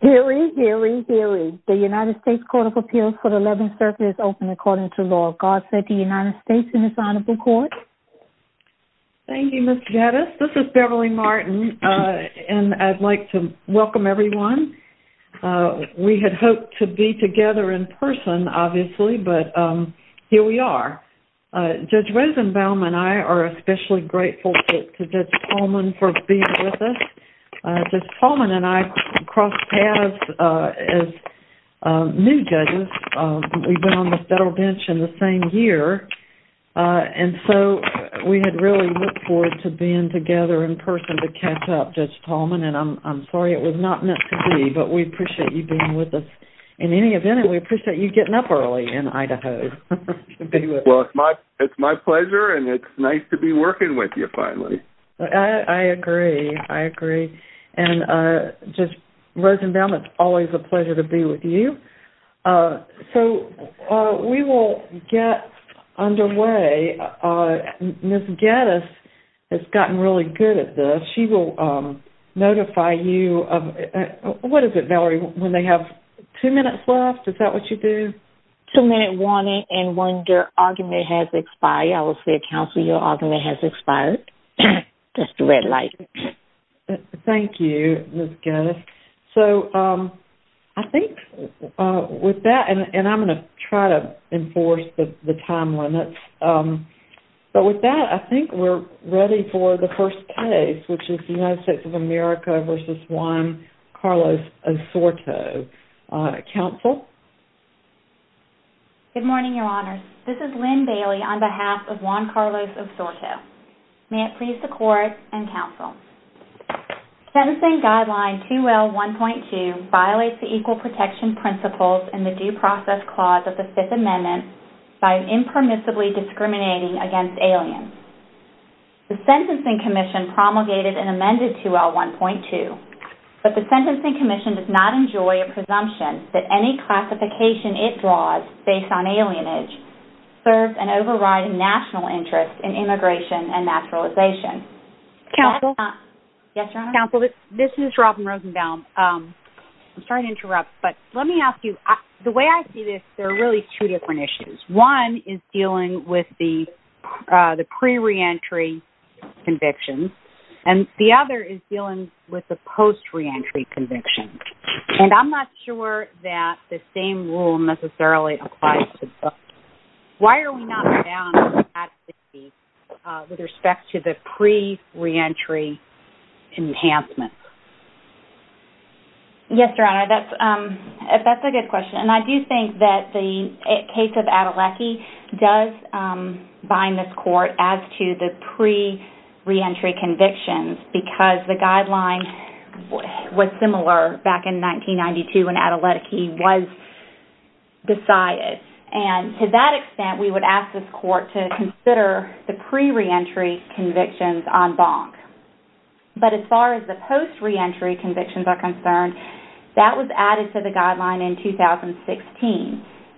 Hear ye, hear ye, hear ye. The United States Court of Appeals for the 11th Circuit is open according to law. God save the United States and his Honorable Court. Thank you, Ms. Jettis. This is Beverly Martin and I'd like to welcome everyone. We had hoped to be together in person, obviously, but here we are. Judge Rosenbaum and I are especially grateful to Judge Tallman for being with us. Judge Tallman and I crossed paths as new judges. We've been on the federal bench in the same year and so we had really looked forward to being together in person to catch up, Judge Tallman, and I'm sorry it was not meant to be, but we appreciate you being with us. In any event, we appreciate you getting up early in Idaho to be with us. Well, it's my pleasure and it's nice to be working with you finally. I agree. I agree. And, Judge Rosenbaum, it's always a pleasure to be with you. So, we will get underway. Ms. Jettis has gotten really good at this. She will notify you of, what is it, Valerie, when they have two minutes left? Is that what you do? Two-minute warning and when their argument has expired. I will say, counsel, your argument has expired. That's the red light. Thank you, Ms. Jettis. So, I think with that, and I'm going to try to enforce the time limits, but with that, I think we're ready for the first case, which is the United States of America v. Juan Carlos Osorto. Counsel? Good morning, Your Honors. This is Lynn Bailey on behalf of Juan Carlos Osorto. May it please the Court and counsel. Sentencing Guideline 2L1.2 violates the Equal Protection Principles and the Due Process Clause of the Fifth Amendment by impermissibly discriminating against aliens. The Sentencing Commission promulgated and amended 2L1.2, but the Sentencing Commission does not enjoy a presumption that any classification it draws based on alienage serves an overriding national interest in immigration and naturalization. Counsel? Yes, Your Honor. Counsel, this is Robin Rosenbaum. I'm sorry to interrupt, but let me ask you, the way I see this, there are really two different issues. One is dealing with the pre-reentry convictions, and the other is dealing with the post-reentry convictions, and I'm not sure that the same rule necessarily applies to both. Why are we not bound by that with respect to the pre-reentry enhancements? Yes, Your Honor, that's a good question, and I do think that the case of Adelecki does bind this Court as to the pre-reentry convictions because the guideline was similar back in 1992 when Adelecki was decided. And to that extent, we would ask this Court to consider the pre-reentry convictions en banc. But as far as the post-reentry convictions are concerned, that was added to the guideline in 2016,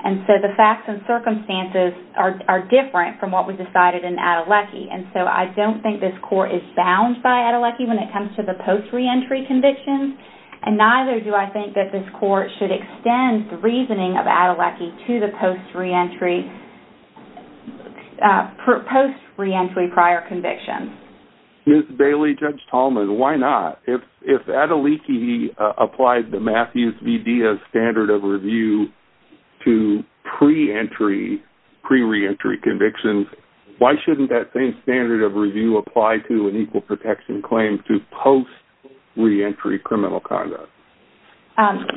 and so the facts and circumstances are different from what was decided in Adelecki. And so I don't think this Court is bound by Adelecki when it comes to the post-reentry convictions, and neither do I think that this Court should extend the reasoning of Adelecki to the post-reentry prior convictions. Ms. Bailey, Judge Tallman, why not? If Adelecki applied the Matthews v. Diaz standard of review to pre-entry, pre-reentry convictions, why shouldn't that same standard of review apply to an equal protection claim to post-reentry criminal conduct?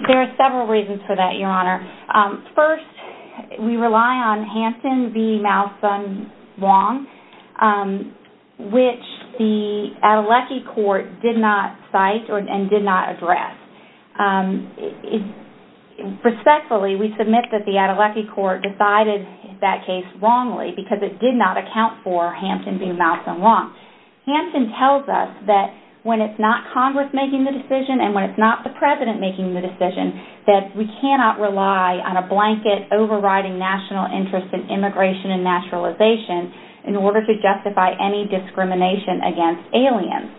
There are several reasons for that, Your Honor. First, we rely on Hampton v. Malson-Wong, which the Adelecki Court did not cite and did not address. Respectfully, we submit that the Adelecki Court decided that case wrongly because it did not account for Hampton v. Malson-Wong. Hampton tells us that when it's not Congress making the decision and when it's not the President making the decision, that we cannot rely on a blanket overriding national interest in immigration and naturalization in order to justify any discrimination against aliens.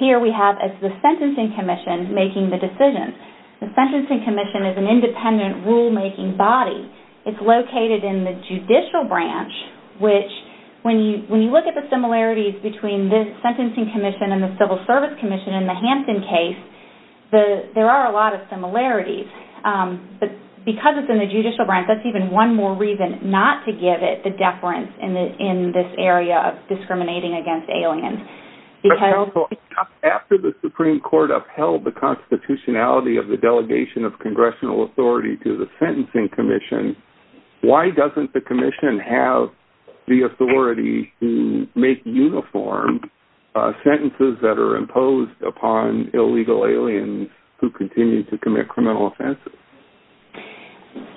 Here we have the Sentencing Commission making the decision. The Sentencing Commission is an independent rulemaking body. It's located in the judicial branch, which when you look at the similarities between the Sentencing Commission and the Civil Service Commission in the Hampton case, there are a lot of similarities. Because it's in the judicial branch, that's even one more reason not to give it the deference in this area of discriminating against aliens. After the Supreme Court upheld the constitutionality of the delegation of Congressional authority to the Sentencing Commission, why doesn't the Commission have the authority to make uniform sentences that are imposed upon illegal aliens who continue to commit criminal offenses?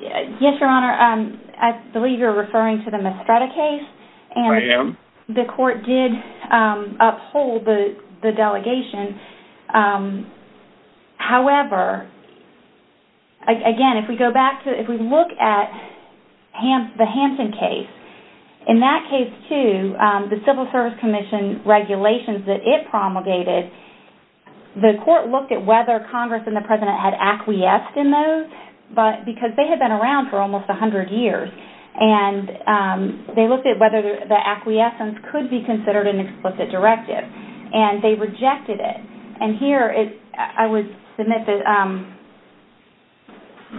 Yes, Your Honor. I believe you're referring to the Mestreda case. I am. The court did uphold the delegation. However, again, if we look at the Hampton case, in that case too, the Civil Service Commission regulations that it promulgated, the court looked at whether Congress and the President had acquiesced in those because they had been around for almost 100 years. And they looked at whether the acquiescence could be considered an explicit directive. And they rejected it. And here, I would submit that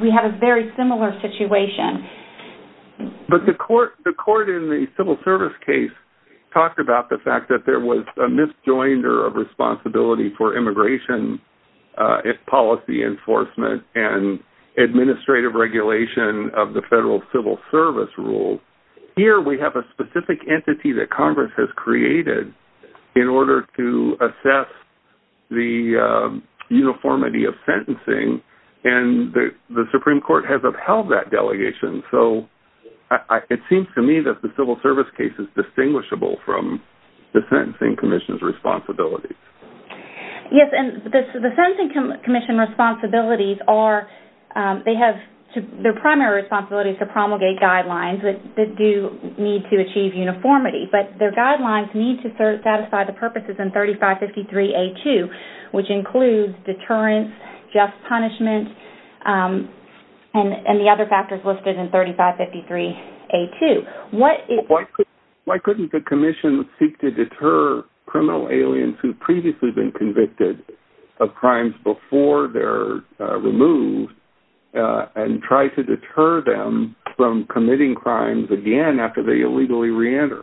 we have a very similar situation. But the court in the Civil Service case talked about the fact that there was a misjoinder of responsibility for immigration policy enforcement and administrative regulation of the Federal Civil Service rules. Here, we have a specific entity that Congress has created in order to assess the uniformity of sentencing. And the Supreme Court has upheld that delegation. So, it seems to me that the Civil Service case is distinguishable from the Sentencing Commission's responsibilities. Yes. And the Sentencing Commission responsibilities are – they have – their primary responsibility is to promulgate guidelines that do need to achieve uniformity. But their guidelines need to satisfy the purposes in 3553A2, which includes deterrence, just punishment, and the other factors listed in 3553A2. Why couldn't the Commission seek to deter criminal aliens who've previously been convicted of crimes before they're removed and try to deter them from committing crimes again after they illegally re-enter?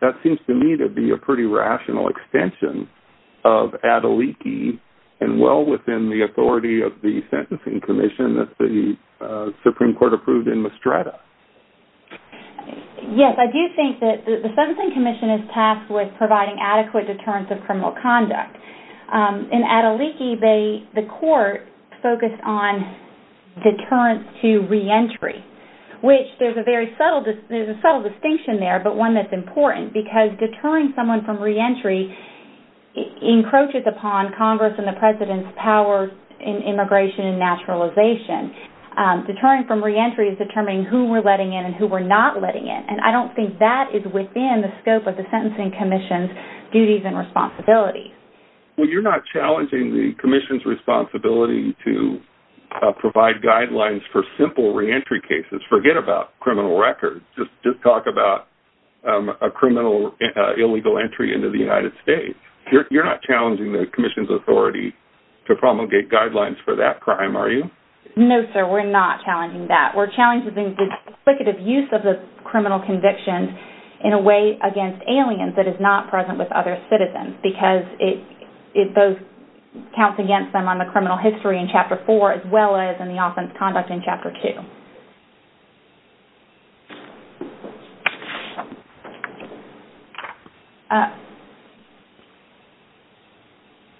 That seems to me to be a pretty rational extension of Adeliki and well within the authority of the Sentencing Commission that the Supreme Court approved in Mastretta. Yes. I do think that the Sentencing Commission is tasked with providing adequate deterrence of criminal conduct. In Adeliki, they – the court focused on deterrence to re-entry, which there's a very subtle – there's a subtle distinction there, but one that's important because deterring someone from re-entry encroaches upon Congress and the President's power in immigration and naturalization. Deterring from re-entry is determining who we're letting in and who we're not letting in, and I don't think that is within the scope of the Sentencing Commission's duties and responsibilities. Well, you're not challenging the Commission's responsibility to provide guidelines for simple re-entry cases. Forget about criminal records. Just talk about a criminal illegal entry into the United States. You're not challenging the Commission's authority to promulgate guidelines for that crime, are you? No, sir. We're not challenging that. We're challenging the duplicative use of the criminal conviction in a way against aliens that is not present with other citizens because it – those counts against them on the criminal history in Chapter 4 as well as in the offense conduct in Chapter 2.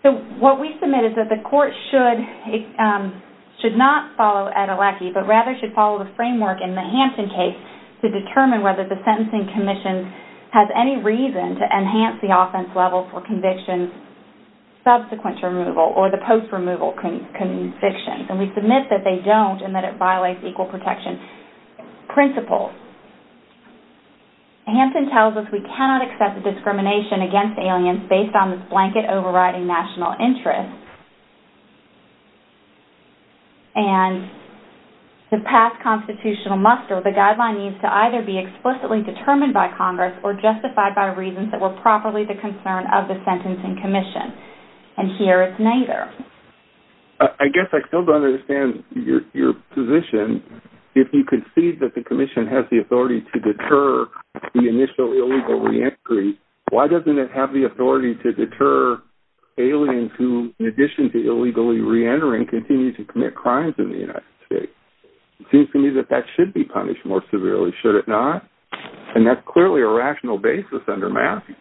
So what we submit is that the court should – should not follow Etalaki, but rather should follow the framework in the Hampton case to determine whether the Sentencing Commission has any reason to enhance the offense level for conviction subsequent to removal or the post-removal conviction. And we submit that they don't and that it violates equal protection principles. Hampton tells us we cannot accept discrimination against aliens based on this blanket overriding national interest. And to pass constitutional muster, the guideline needs to either be explicitly determined by Congress or justified by reasons that were properly the concern of the Sentencing Commission. And here it's neither. I guess I still don't understand your position. If you concede that the Commission has the authority to deter the initial illegal reentry, why doesn't it have the authority to deter aliens who, in addition to illegally reentering, continue to commit crimes in the United States? It seems to me that that should be punished more severely, should it not? And that's clearly a rational basis under Matthews.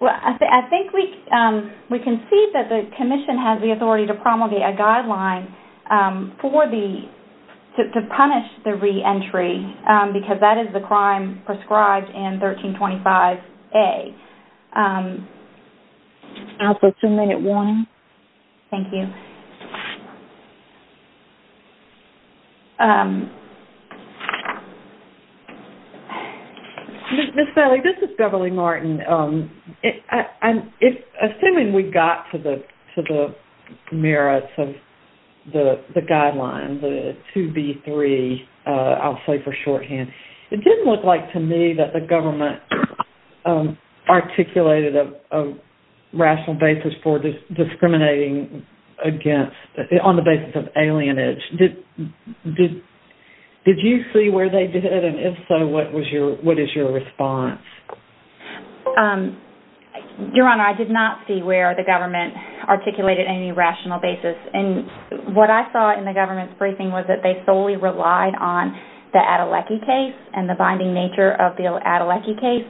Well, I think we concede that the Commission has the authority to promulgate a guideline for the – to punish the reentry because that is the crime prescribed in 1325A. I'll put two minute warning. Thank you. Ms. Bailey, this is Beverly Martin. I'm assuming we got to the merits of the guideline, the 2B3, I'll say for shorthand. It didn't look like to me that the government articulated a rational basis for discriminating against – on the basis of alienage. Did you see where they did, and if so, what was your – what is your response? Your Honor, I did not see where the government articulated any rational basis. And what I saw in the government's briefing was that they solely relied on the Adelecki case and the binding nature of the Adelecki case.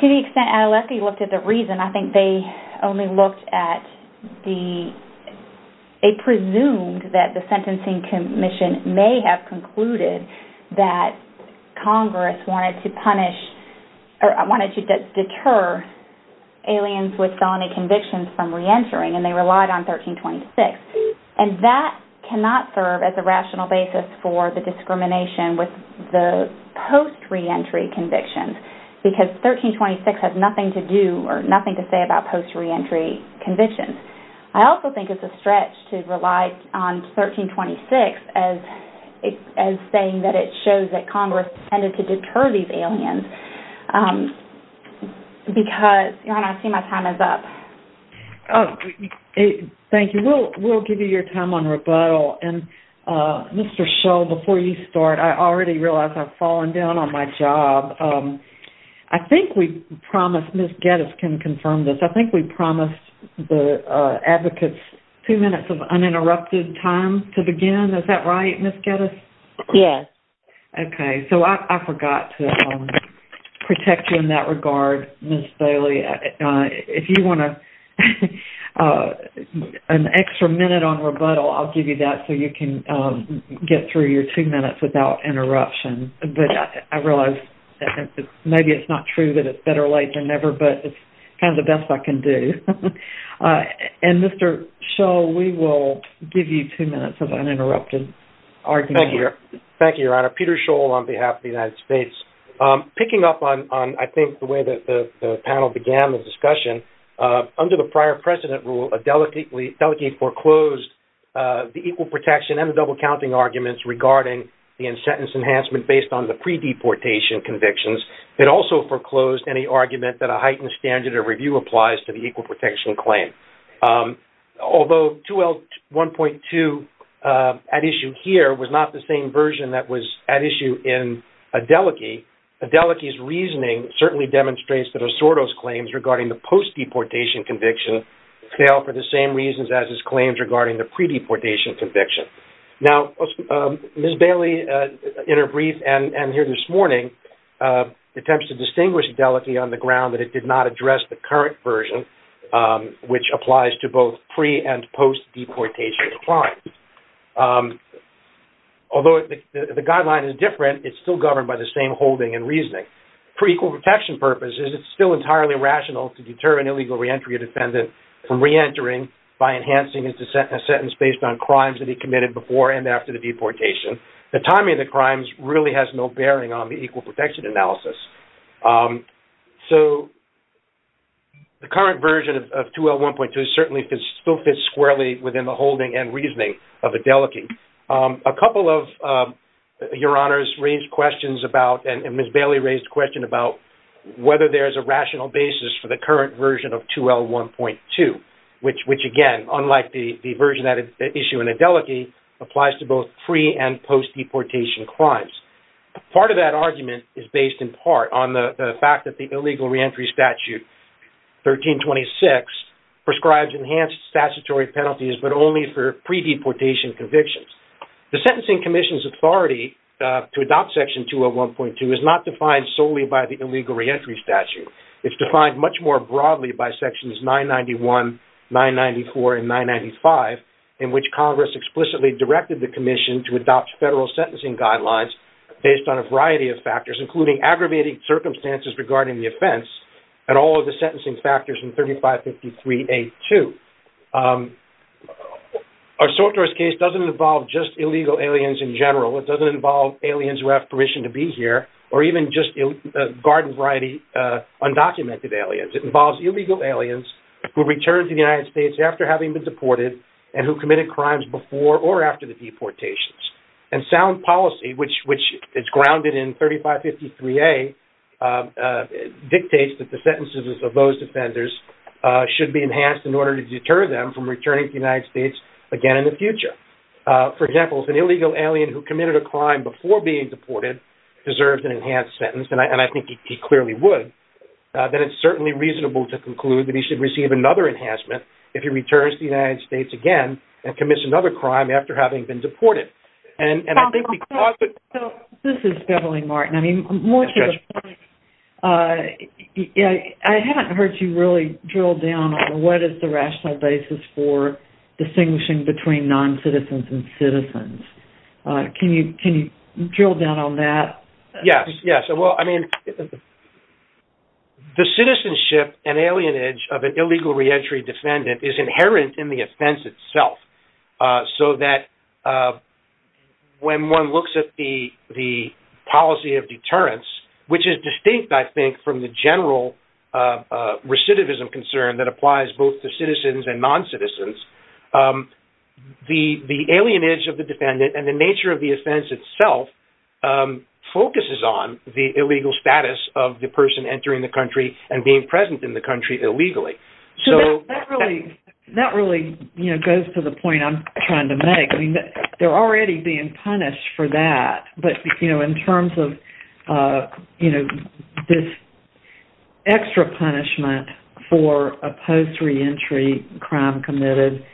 To the extent Adelecki looked at the reason, I think they only looked at the – they presumed that the Sentencing Commission may have concluded that Congress wanted to punish – or wanted to deter aliens with felony convictions from reentering, and they relied on 1326. And that cannot serve as a rational basis for the discrimination with the post-reentry convictions because 1326 has nothing to do or nothing to say about post-reentry convictions. I also think it's a stretch to rely on 1326 as saying that it shows that Congress intended to deter these aliens because – Your Honor, I see my time is up. Thank you. We'll give you your time on rebuttal. And Mr. Schull, before you start, I already realize I've fallen down on my job. I think we promised – Ms. Geddes can confirm this – I think we promised the advocates two minutes of uninterrupted time to begin. Is that right, Ms. Geddes? Yes. Okay. So I forgot to protect you in that regard, Ms. Bailey. If you want an extra minute on rebuttal, I'll give you that so you can get through your two minutes without interruption. But I realize maybe it's not true that it's better late than never, but it's kind of the best I can do. And Mr. Schull, we will give you two minutes of uninterrupted argument. Thank you, Your Honor. Peter Schull on behalf of the United States. Picking up on, I think, the way that the panel began the discussion, under the prior precedent rule, a delegate foreclosed the equal protection and the double-counting arguments regarding the in-sentence enhancement based on the pre-deportation convictions. It also foreclosed any argument that a heightened standard of review applies to the equal protection claim. Although 2L1.2 at issue here was not the same version that was at issue in Adelike, Adelike's reasoning certainly demonstrates that Osorto's claims regarding the post-deportation conviction fail for the same reasons as his claims regarding the pre-deportation conviction. Now, Ms. Bailey, in her brief and here this morning, attempts to distinguish Adelike on the ground that it did not address the current version, which applies to both pre- and post-deportation claims. Although the guideline is different, it's still governed by the same holding and reasoning. For equal protection purposes, it's still entirely rational to deter an illegal reentry defendant from reentering by enhancing his sentence based on crimes that he committed before and after the deportation. The timing of the crimes really has no bearing on the equal protection analysis. The current version of 2L1.2 certainly still fits squarely within the holding and reasoning of Adelike. A couple of your honors raised questions about, and Ms. Bailey raised a question about whether there's a rational basis for the current version of 2L1.2, which again, unlike the version at issue in Adelike, applies to both pre- and post-deportation crimes. Part of that argument is based in part on the fact that the illegal reentry statute 1326 prescribes enhanced statutory penalties, but only for pre-deportation convictions. The Sentencing Commission's authority to adopt Section 2L1.2 is not defined solely by the illegal reentry statute. It's defined much more broadly by Sections 991, 994, and 995, in which Congress explicitly directed the Commission to adopt federal sentencing guidelines based on a variety of factors, including aggravating circumstances regarding the offense and all of the sentencing factors in 3553A2. Our sortorist case doesn't involve just illegal aliens in general. It doesn't involve aliens who have permission to be here, or even just a garden variety undocumented aliens. It involves illegal aliens who returned to the United States after having been deported and who committed crimes before or after the deportations. And sound policy, which is grounded in 3553A, dictates that the sentences of those offenders should be enhanced in order to deter them from returning to the United States again in the future. For example, if an illegal alien who committed a crime before being deported deserves an enhanced sentence, and I think he clearly would, then it's certainly reasonable to conclude that he should receive another enhancement if he returns to the United States again and commits another crime after having been deported. This is Beverly Martin. I mean, more to the point, I haven't heard you really drill down on what is the rational basis for distinguishing between noncitizens and citizens. Can you drill down on that? Yes, yes. Well, I mean, the citizenship and alienage of an illegal reentry defendant is inherent in the offense itself, so that when one looks at the policy of deterrence, which is distinct, I think, from the general recidivism concern that applies both to citizens and noncitizens, the alienage of the defendant and the nature of the offense itself focuses on the illegal status of the person entering the country and being present in the country illegally. That really goes to the point I'm trying to make. I mean, they're already being punished for that, but in terms of this extra punishment for a post-reentry crime committed,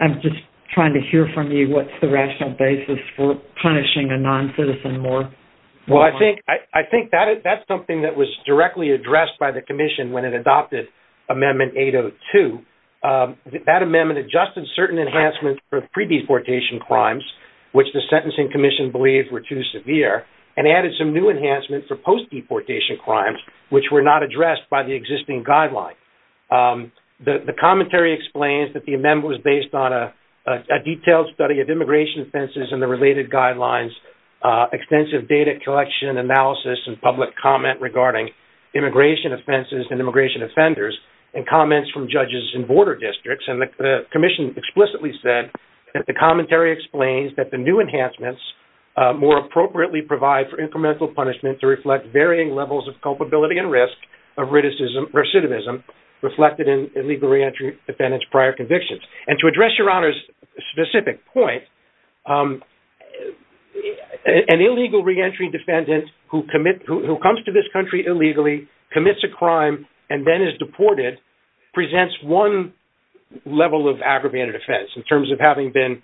I'm just trying to hear from you what's the rational basis for punishing a noncitizen more. Well, I think that's something that was directly addressed by the Commission when it adopted Amendment 802. That amendment adjusted certain enhancements for pre-deportation crimes, which the Sentencing Commission believed were too severe, and added some new enhancements for post-deportation crimes, which were not addressed by the existing guidelines. The commentary explains that the amendment was based on a detailed study of immigration offenses and the related guidelines, extensive data collection, analysis, and public comment regarding immigration offenses and immigration offenders, and comments from judges in border districts. And the Commission explicitly said that the commentary explains that the new enhancements more appropriately provide for incremental punishment to reflect varying levels of culpability and risk of recidivism reflected in illegal reentry defendants' prior convictions. And to address Your Honor's specific point, an illegal reentry defendant who comes to this country illegally, commits a crime, and then is deported presents one level of aggravated offense in terms of having been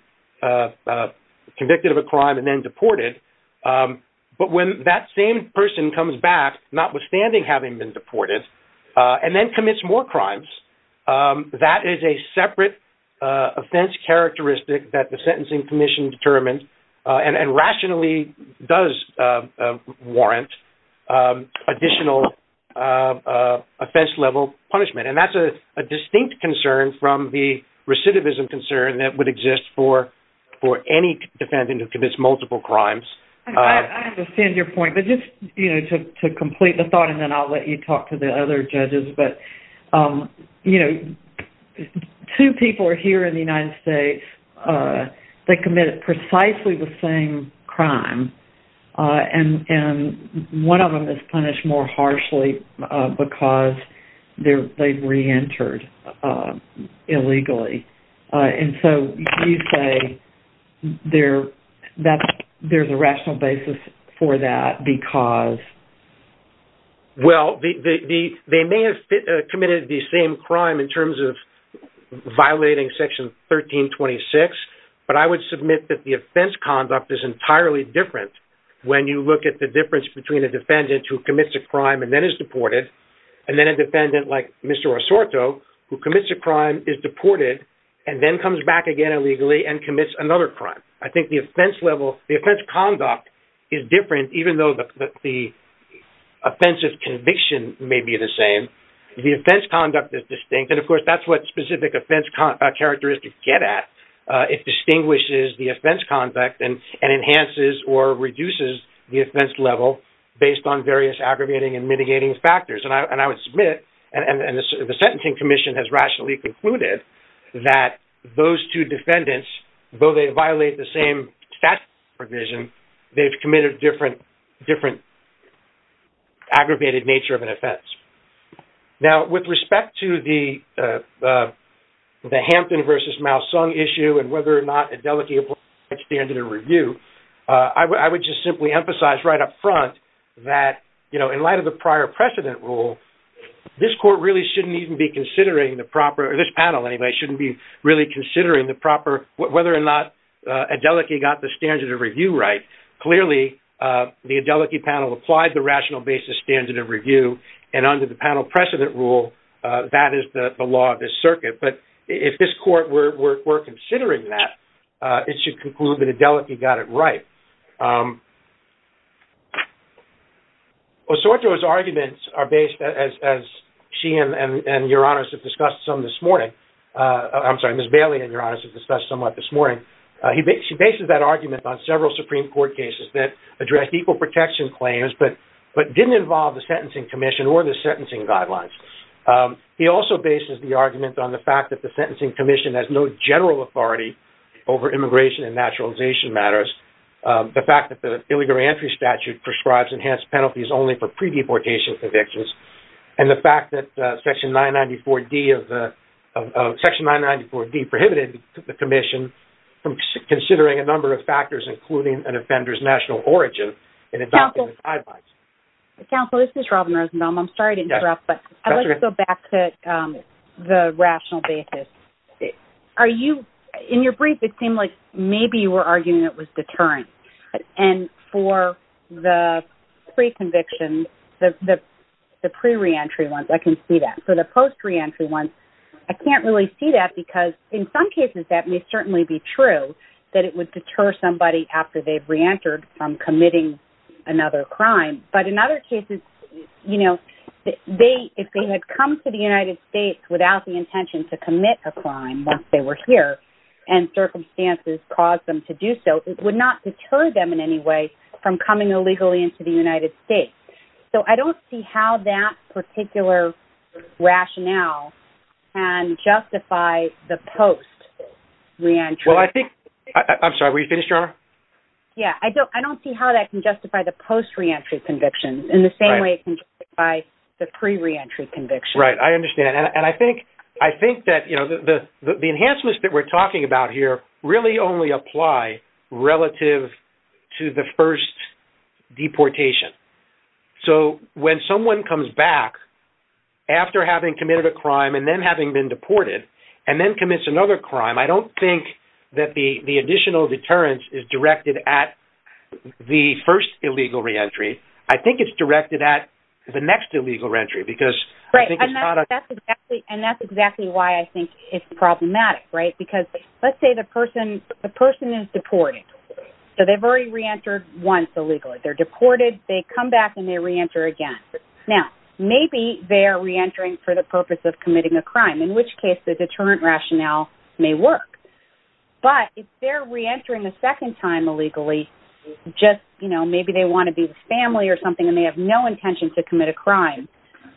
convicted of a crime and then deported. But when that same person comes back, notwithstanding having been deported, and then commits more crimes, that is a separate offense characteristic that the Sentencing Commission determined and rationally does warrant additional offense-level punishment. And that's a distinct concern from the recidivism concern that would exist for any defendant who commits multiple crimes. I understand your point, but just to complete the thought, and then I'll let you talk to the other judges, but two people are here in the United States that committed precisely the same crime, and one of them is punished more harshly because they reentered illegally. And so you say there's a rational basis for that because... And then comes back again illegally and commits another crime. I think the offense level, the offense conduct is different even though the offense of conviction may be the same. The offense conduct is distinct, and of course that's what specific offense characteristics get at. It distinguishes the offense conduct and enhances or reduces the offense level based on various aggravating and mitigating factors. And I would submit, and the Sentencing Commission has rationally concluded, that those two defendants, though they violate the same statute provision, they've committed different aggravated nature of an offense. Now, with respect to the Hampton v. Malsung issue and whether or not Adelike applied standard of review, I would just simply emphasize right up front that in light of the prior precedent rule, this panel really shouldn't be really considering whether or not Adelike got the standard of review right. Clearly, the Adelike panel applied the rational basis standard of review, and under the panel precedent rule, that is the law of this circuit. But if this court were considering that, it should conclude that Adelike got it right. Osorto's arguments are based, as she and Your Honors have discussed some this morning, I'm sorry, Ms. Bailey and Your Honors have discussed somewhat this morning. She bases that argument on several Supreme Court cases that address equal protection claims but didn't involve the Sentencing Commission or the sentencing guidelines. He also bases the argument on the fact that the Sentencing Commission has no general authority over immigration and naturalization matters. The fact that the illegal re-entry statute prescribes enhanced penalties only for pre-deportation convictions. And the fact that Section 994D prohibited the Commission from considering a number of factors, including an offender's national origin, in adopting the guidelines. Counsel, this is Robin Rosenbaum. I'm sorry to interrupt, but I'd like to go back to the rational basis. In your brief, it seemed like maybe you were arguing it was deterrent. And for the pre-conviction, the pre-reentry ones, I can see that. For the post-reentry ones, I can't really see that because in some cases that may certainly be true, that it would deter somebody after they've re-entered from committing another crime. But in other cases, you know, if they had come to the United States without the intention to commit a crime once they were here, and circumstances caused them to do so, it would not deter them in any way from coming illegally into the United States. So I don't see how that particular rationale can justify the post-reentry. I'm sorry, were you finished, Ronna? Yeah, I don't see how that can justify the post-reentry convictions in the same way it can justify the pre-reentry convictions. Right, I understand. And I think that the enhancements that we're talking about here really only apply relative to the first deportation. So when someone comes back after having committed a crime and then having been deported, and then commits another crime, I don't think that the additional deterrence is directed at the first illegal re-entry. I think it's directed at the next illegal re-entry because I think it's not a... Right, and that's exactly why I think it's problematic, right? Because let's say the person is deported, so they've already re-entered once illegally. They're deported, they come back, and they re-enter again. Now, maybe they are re-entering for the purpose of committing a crime, in which case the deterrent rationale may work. But if they're re-entering a second time illegally, just, you know, maybe they want to be with family or something, and they have no intention to commit a crime,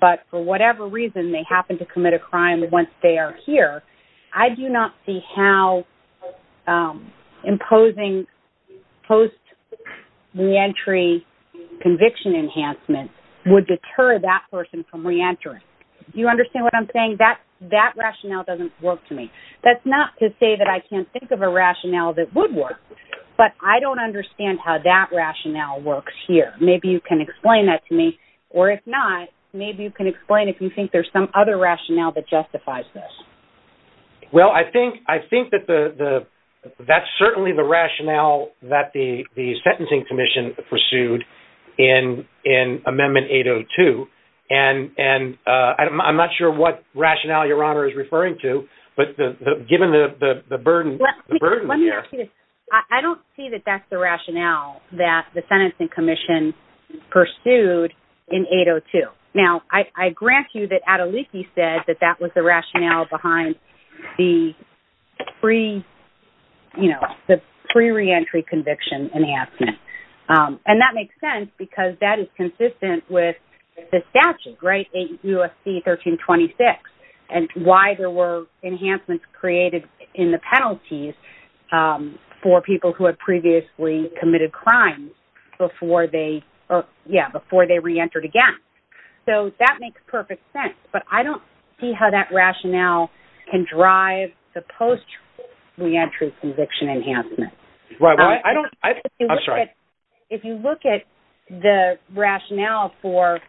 but for whatever reason they happen to commit a crime once they are here, I do not see how imposing post-re-entry conviction enhancement would deter that person from re-entering. Do you understand what I'm saying? That rationale doesn't work to me. That's not to say that I can't think of a rationale that would work, but I don't understand how that rationale works here. Maybe you can explain that to me, or if not, maybe you can explain if you think there's some other rationale that justifies this. Well, I think that that's certainly the rationale that the Sentencing Commission pursued in Amendment 802, and I'm not sure what rationale Your Honor is referring to, but given the burden... I don't see that that's the rationale that the Sentencing Commission pursued in 802. Now, I grant you that Adeliki said that that was the rationale behind the pre-re-entry conviction enhancement, and that makes sense because that is consistent with the statute, right, 8 U.S.C. 1326, and why there were enhancements created in the penalties for people who had previously committed crimes before they re-entered again. So that makes perfect sense, but I don't see how that rationale can drive the post-re-entry conviction enhancement. If you look at the rationale for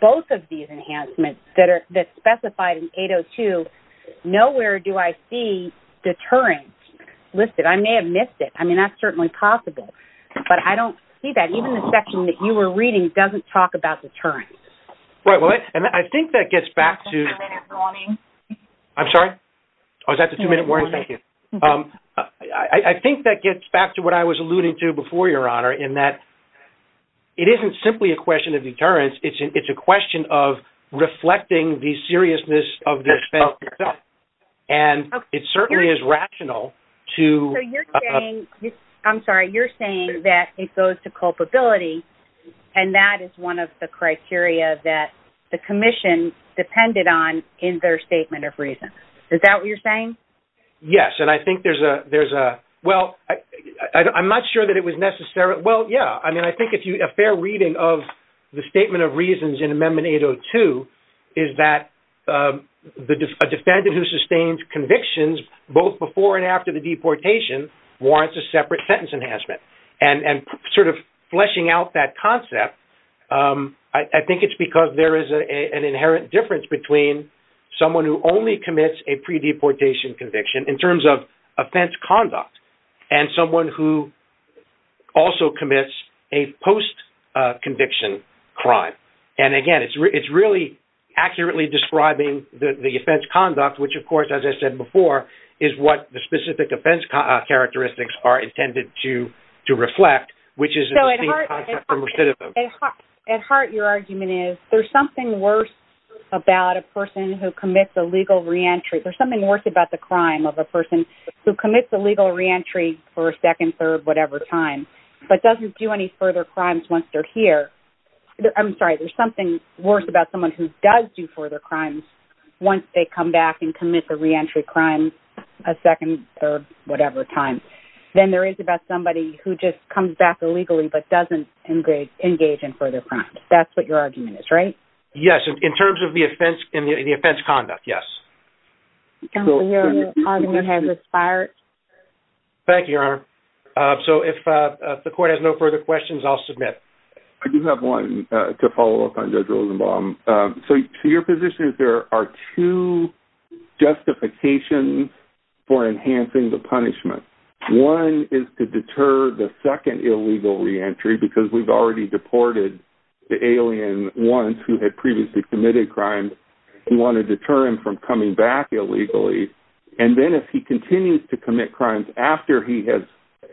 both of these enhancements that are specified in 802, nowhere do I see deterrence listed. I may have missed it. I mean, that's certainly possible, but I don't see that. Even the section that you were reading doesn't talk about deterrence. I think that gets back to what I was alluding to before, Your Honor, in that it isn't simply a question of deterrence. It's a question of reflecting the seriousness of the offense itself, and it certainly is rational to... the commission depended on in their statement of reasons. Is that what you're saying? Yes, and I think there's a... Well, I'm not sure that it was necessary. Well, yeah, I mean, I think a fair reading of the statement of reasons in Amendment 802 is that a defendant who sustains convictions both before and after the deportation warrants a separate sentence enhancement. And sort of fleshing out that concept, I think it's because there is an inherent difference between someone who only commits a pre-deportation conviction in terms of offense conduct and someone who also commits a post-conviction crime. And, again, it's really accurately describing the offense conduct, which, of course, as I said before, is what the specific offense characteristics are intended to reflect, which is a distinct concept from recidivism. At heart, your argument is there's something worse about a person who commits a legal reentry... There's something worse about the crime of a person who commits a legal reentry for a second, third, whatever time, but doesn't do any further crimes once they're here. I'm sorry, there's something worse about someone who does do further crimes once they come back and commit the reentry crime a second, third, whatever time than there is about somebody who just comes back illegally but doesn't engage in further crimes. That's what your argument is, right? Yes, in terms of the offense conduct, yes. Your argument has expired. Thank you, Your Honor. So if the court has no further questions, I'll submit. I do have one to follow up on Judge Rosenbaum. So your position is there are two justifications for enhancing the punishment. One is to deter the second illegal reentry because we've already deported the alien once who had previously committed crimes. We want to deter him from coming back illegally. And then if he continues to commit crimes after he has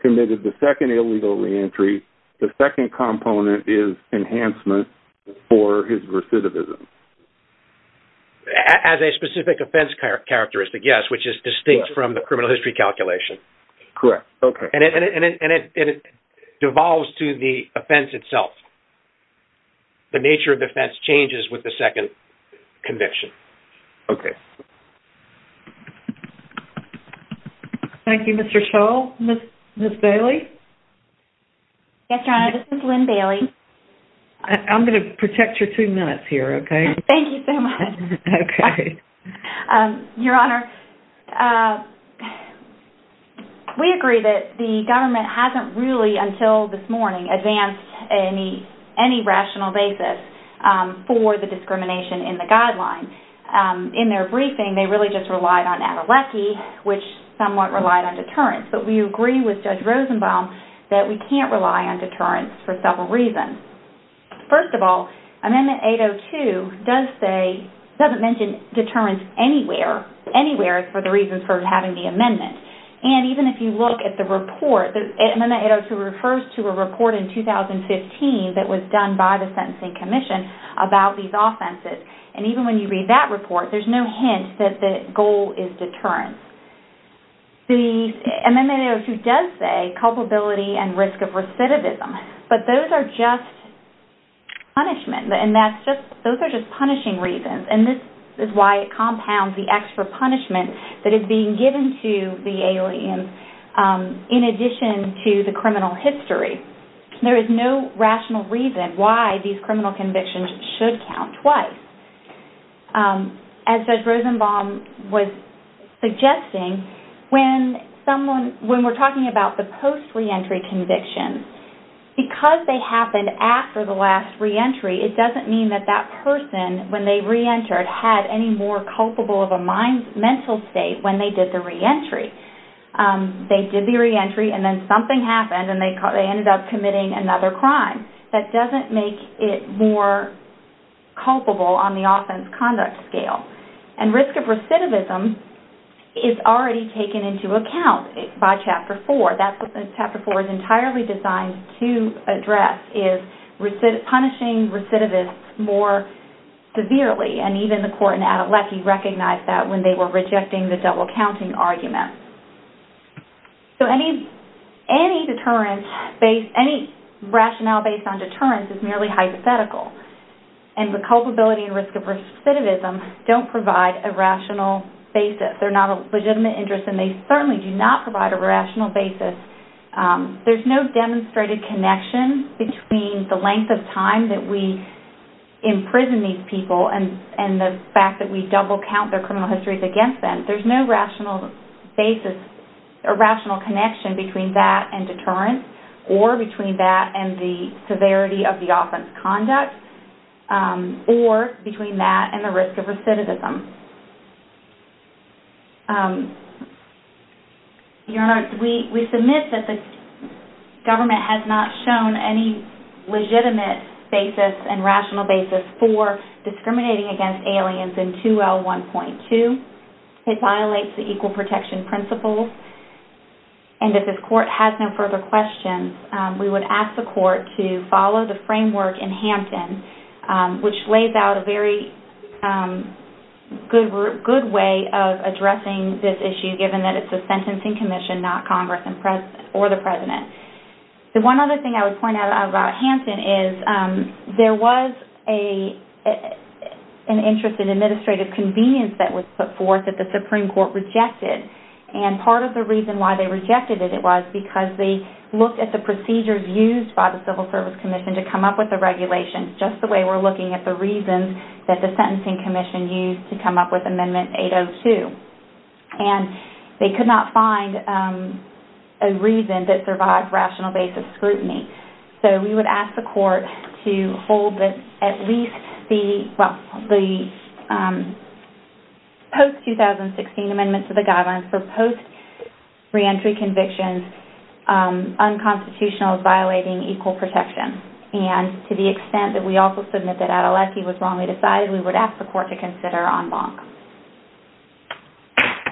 committed the second illegal reentry, the second component is enhancement for his recidivism. As a specific offense characteristic, yes, which is distinct from the criminal history calculation. Correct. And it devolves to the offense itself. The nature of the offense changes with the second conviction. Thank you. Okay. Thank you, Mr. Scholl. Ms. Bailey? Yes, Your Honor. This is Lynn Bailey. I'm going to protect your two minutes here, okay? Thank you so much. Okay. Your Honor, we agree that the government hasn't really, until this morning, advanced any rational basis for the discrimination in the guideline. In their briefing, they really just relied on Adelecki, which somewhat relied on deterrence. But we agree with Judge Rosenbaum that we can't rely on deterrence for several reasons. First of all, Amendment 802 doesn't mention deterrence anywhere for the reasons for having the amendment. And even if you look at the report, Amendment 802 refers to a report in 2015 that was done by the Sentencing Commission about these offenses. And even when you read that report, there's no hint that the goal is deterrence. Amendment 802 does say culpability and risk of recidivism. But those are just punishments. And those are just punishing reasons. And this is why it compounds the extra punishment that is being given to the alien in addition to the criminal history. There is no rational reason why these criminal convictions should count twice. As Judge Rosenbaum was suggesting, when we're talking about the post-reentry conviction, because they happened after the last reentry, it doesn't mean that that person, when they reentered, had any more culpable of a mental state when they did the reentry. They did the reentry, and then something happened, and they ended up committing another crime. That doesn't make it more culpable on the offense conduct scale. And risk of recidivism is already taken into account by Chapter 4. That's what Chapter 4 is entirely designed to address, is punishing recidivists more severely. And even the court in Adelecki recognized that when they were rejecting the double-counting argument. So any rationale based on deterrence is merely hypothetical. And the culpability and risk of recidivism don't provide a rational basis. They're not a legitimate interest, and they certainly do not provide a rational basis. There's no demonstrated connection between the length of time that we imprison these people and the fact that we double-count their criminal histories against them. There's no rational basis or rational connection between that and deterrence, or between that and the severity of the offense conduct, or between that and the risk of recidivism. Your Honor, we submit that the government has not shown any legitimate basis and rational basis for discriminating against aliens in 2L1.2. It violates the Equal Protection Principles. And if this court has no further questions, we would ask the court to follow the framework in Hampton, which lays out a very good way of addressing this issue, given that it's a sentencing commission, not Congress or the President. The one other thing I would point out about Hampton is, there was an interest in administrative convenience that was put forth that the Supreme Court rejected. And part of the reason why they rejected it was because they looked at the procedures used by the Civil Service Commission to come up with the regulations, just the way we're looking at the reasons that the Sentencing Commission used to come up with Amendment 802. And they could not find a reason that survived rational basis scrutiny. So we would ask the court to hold at least the post-2016 Amendment to the Guidelines for post-reentry convictions unconstitutional as violating Equal Protection. And to the extent that we also submit that Adeletti was wrongly decided, we would ask the court to consider en banc.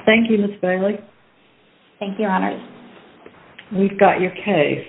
Thank you, Ms. Bailey. Thank you, Your Honors. We've got your case. Thank you.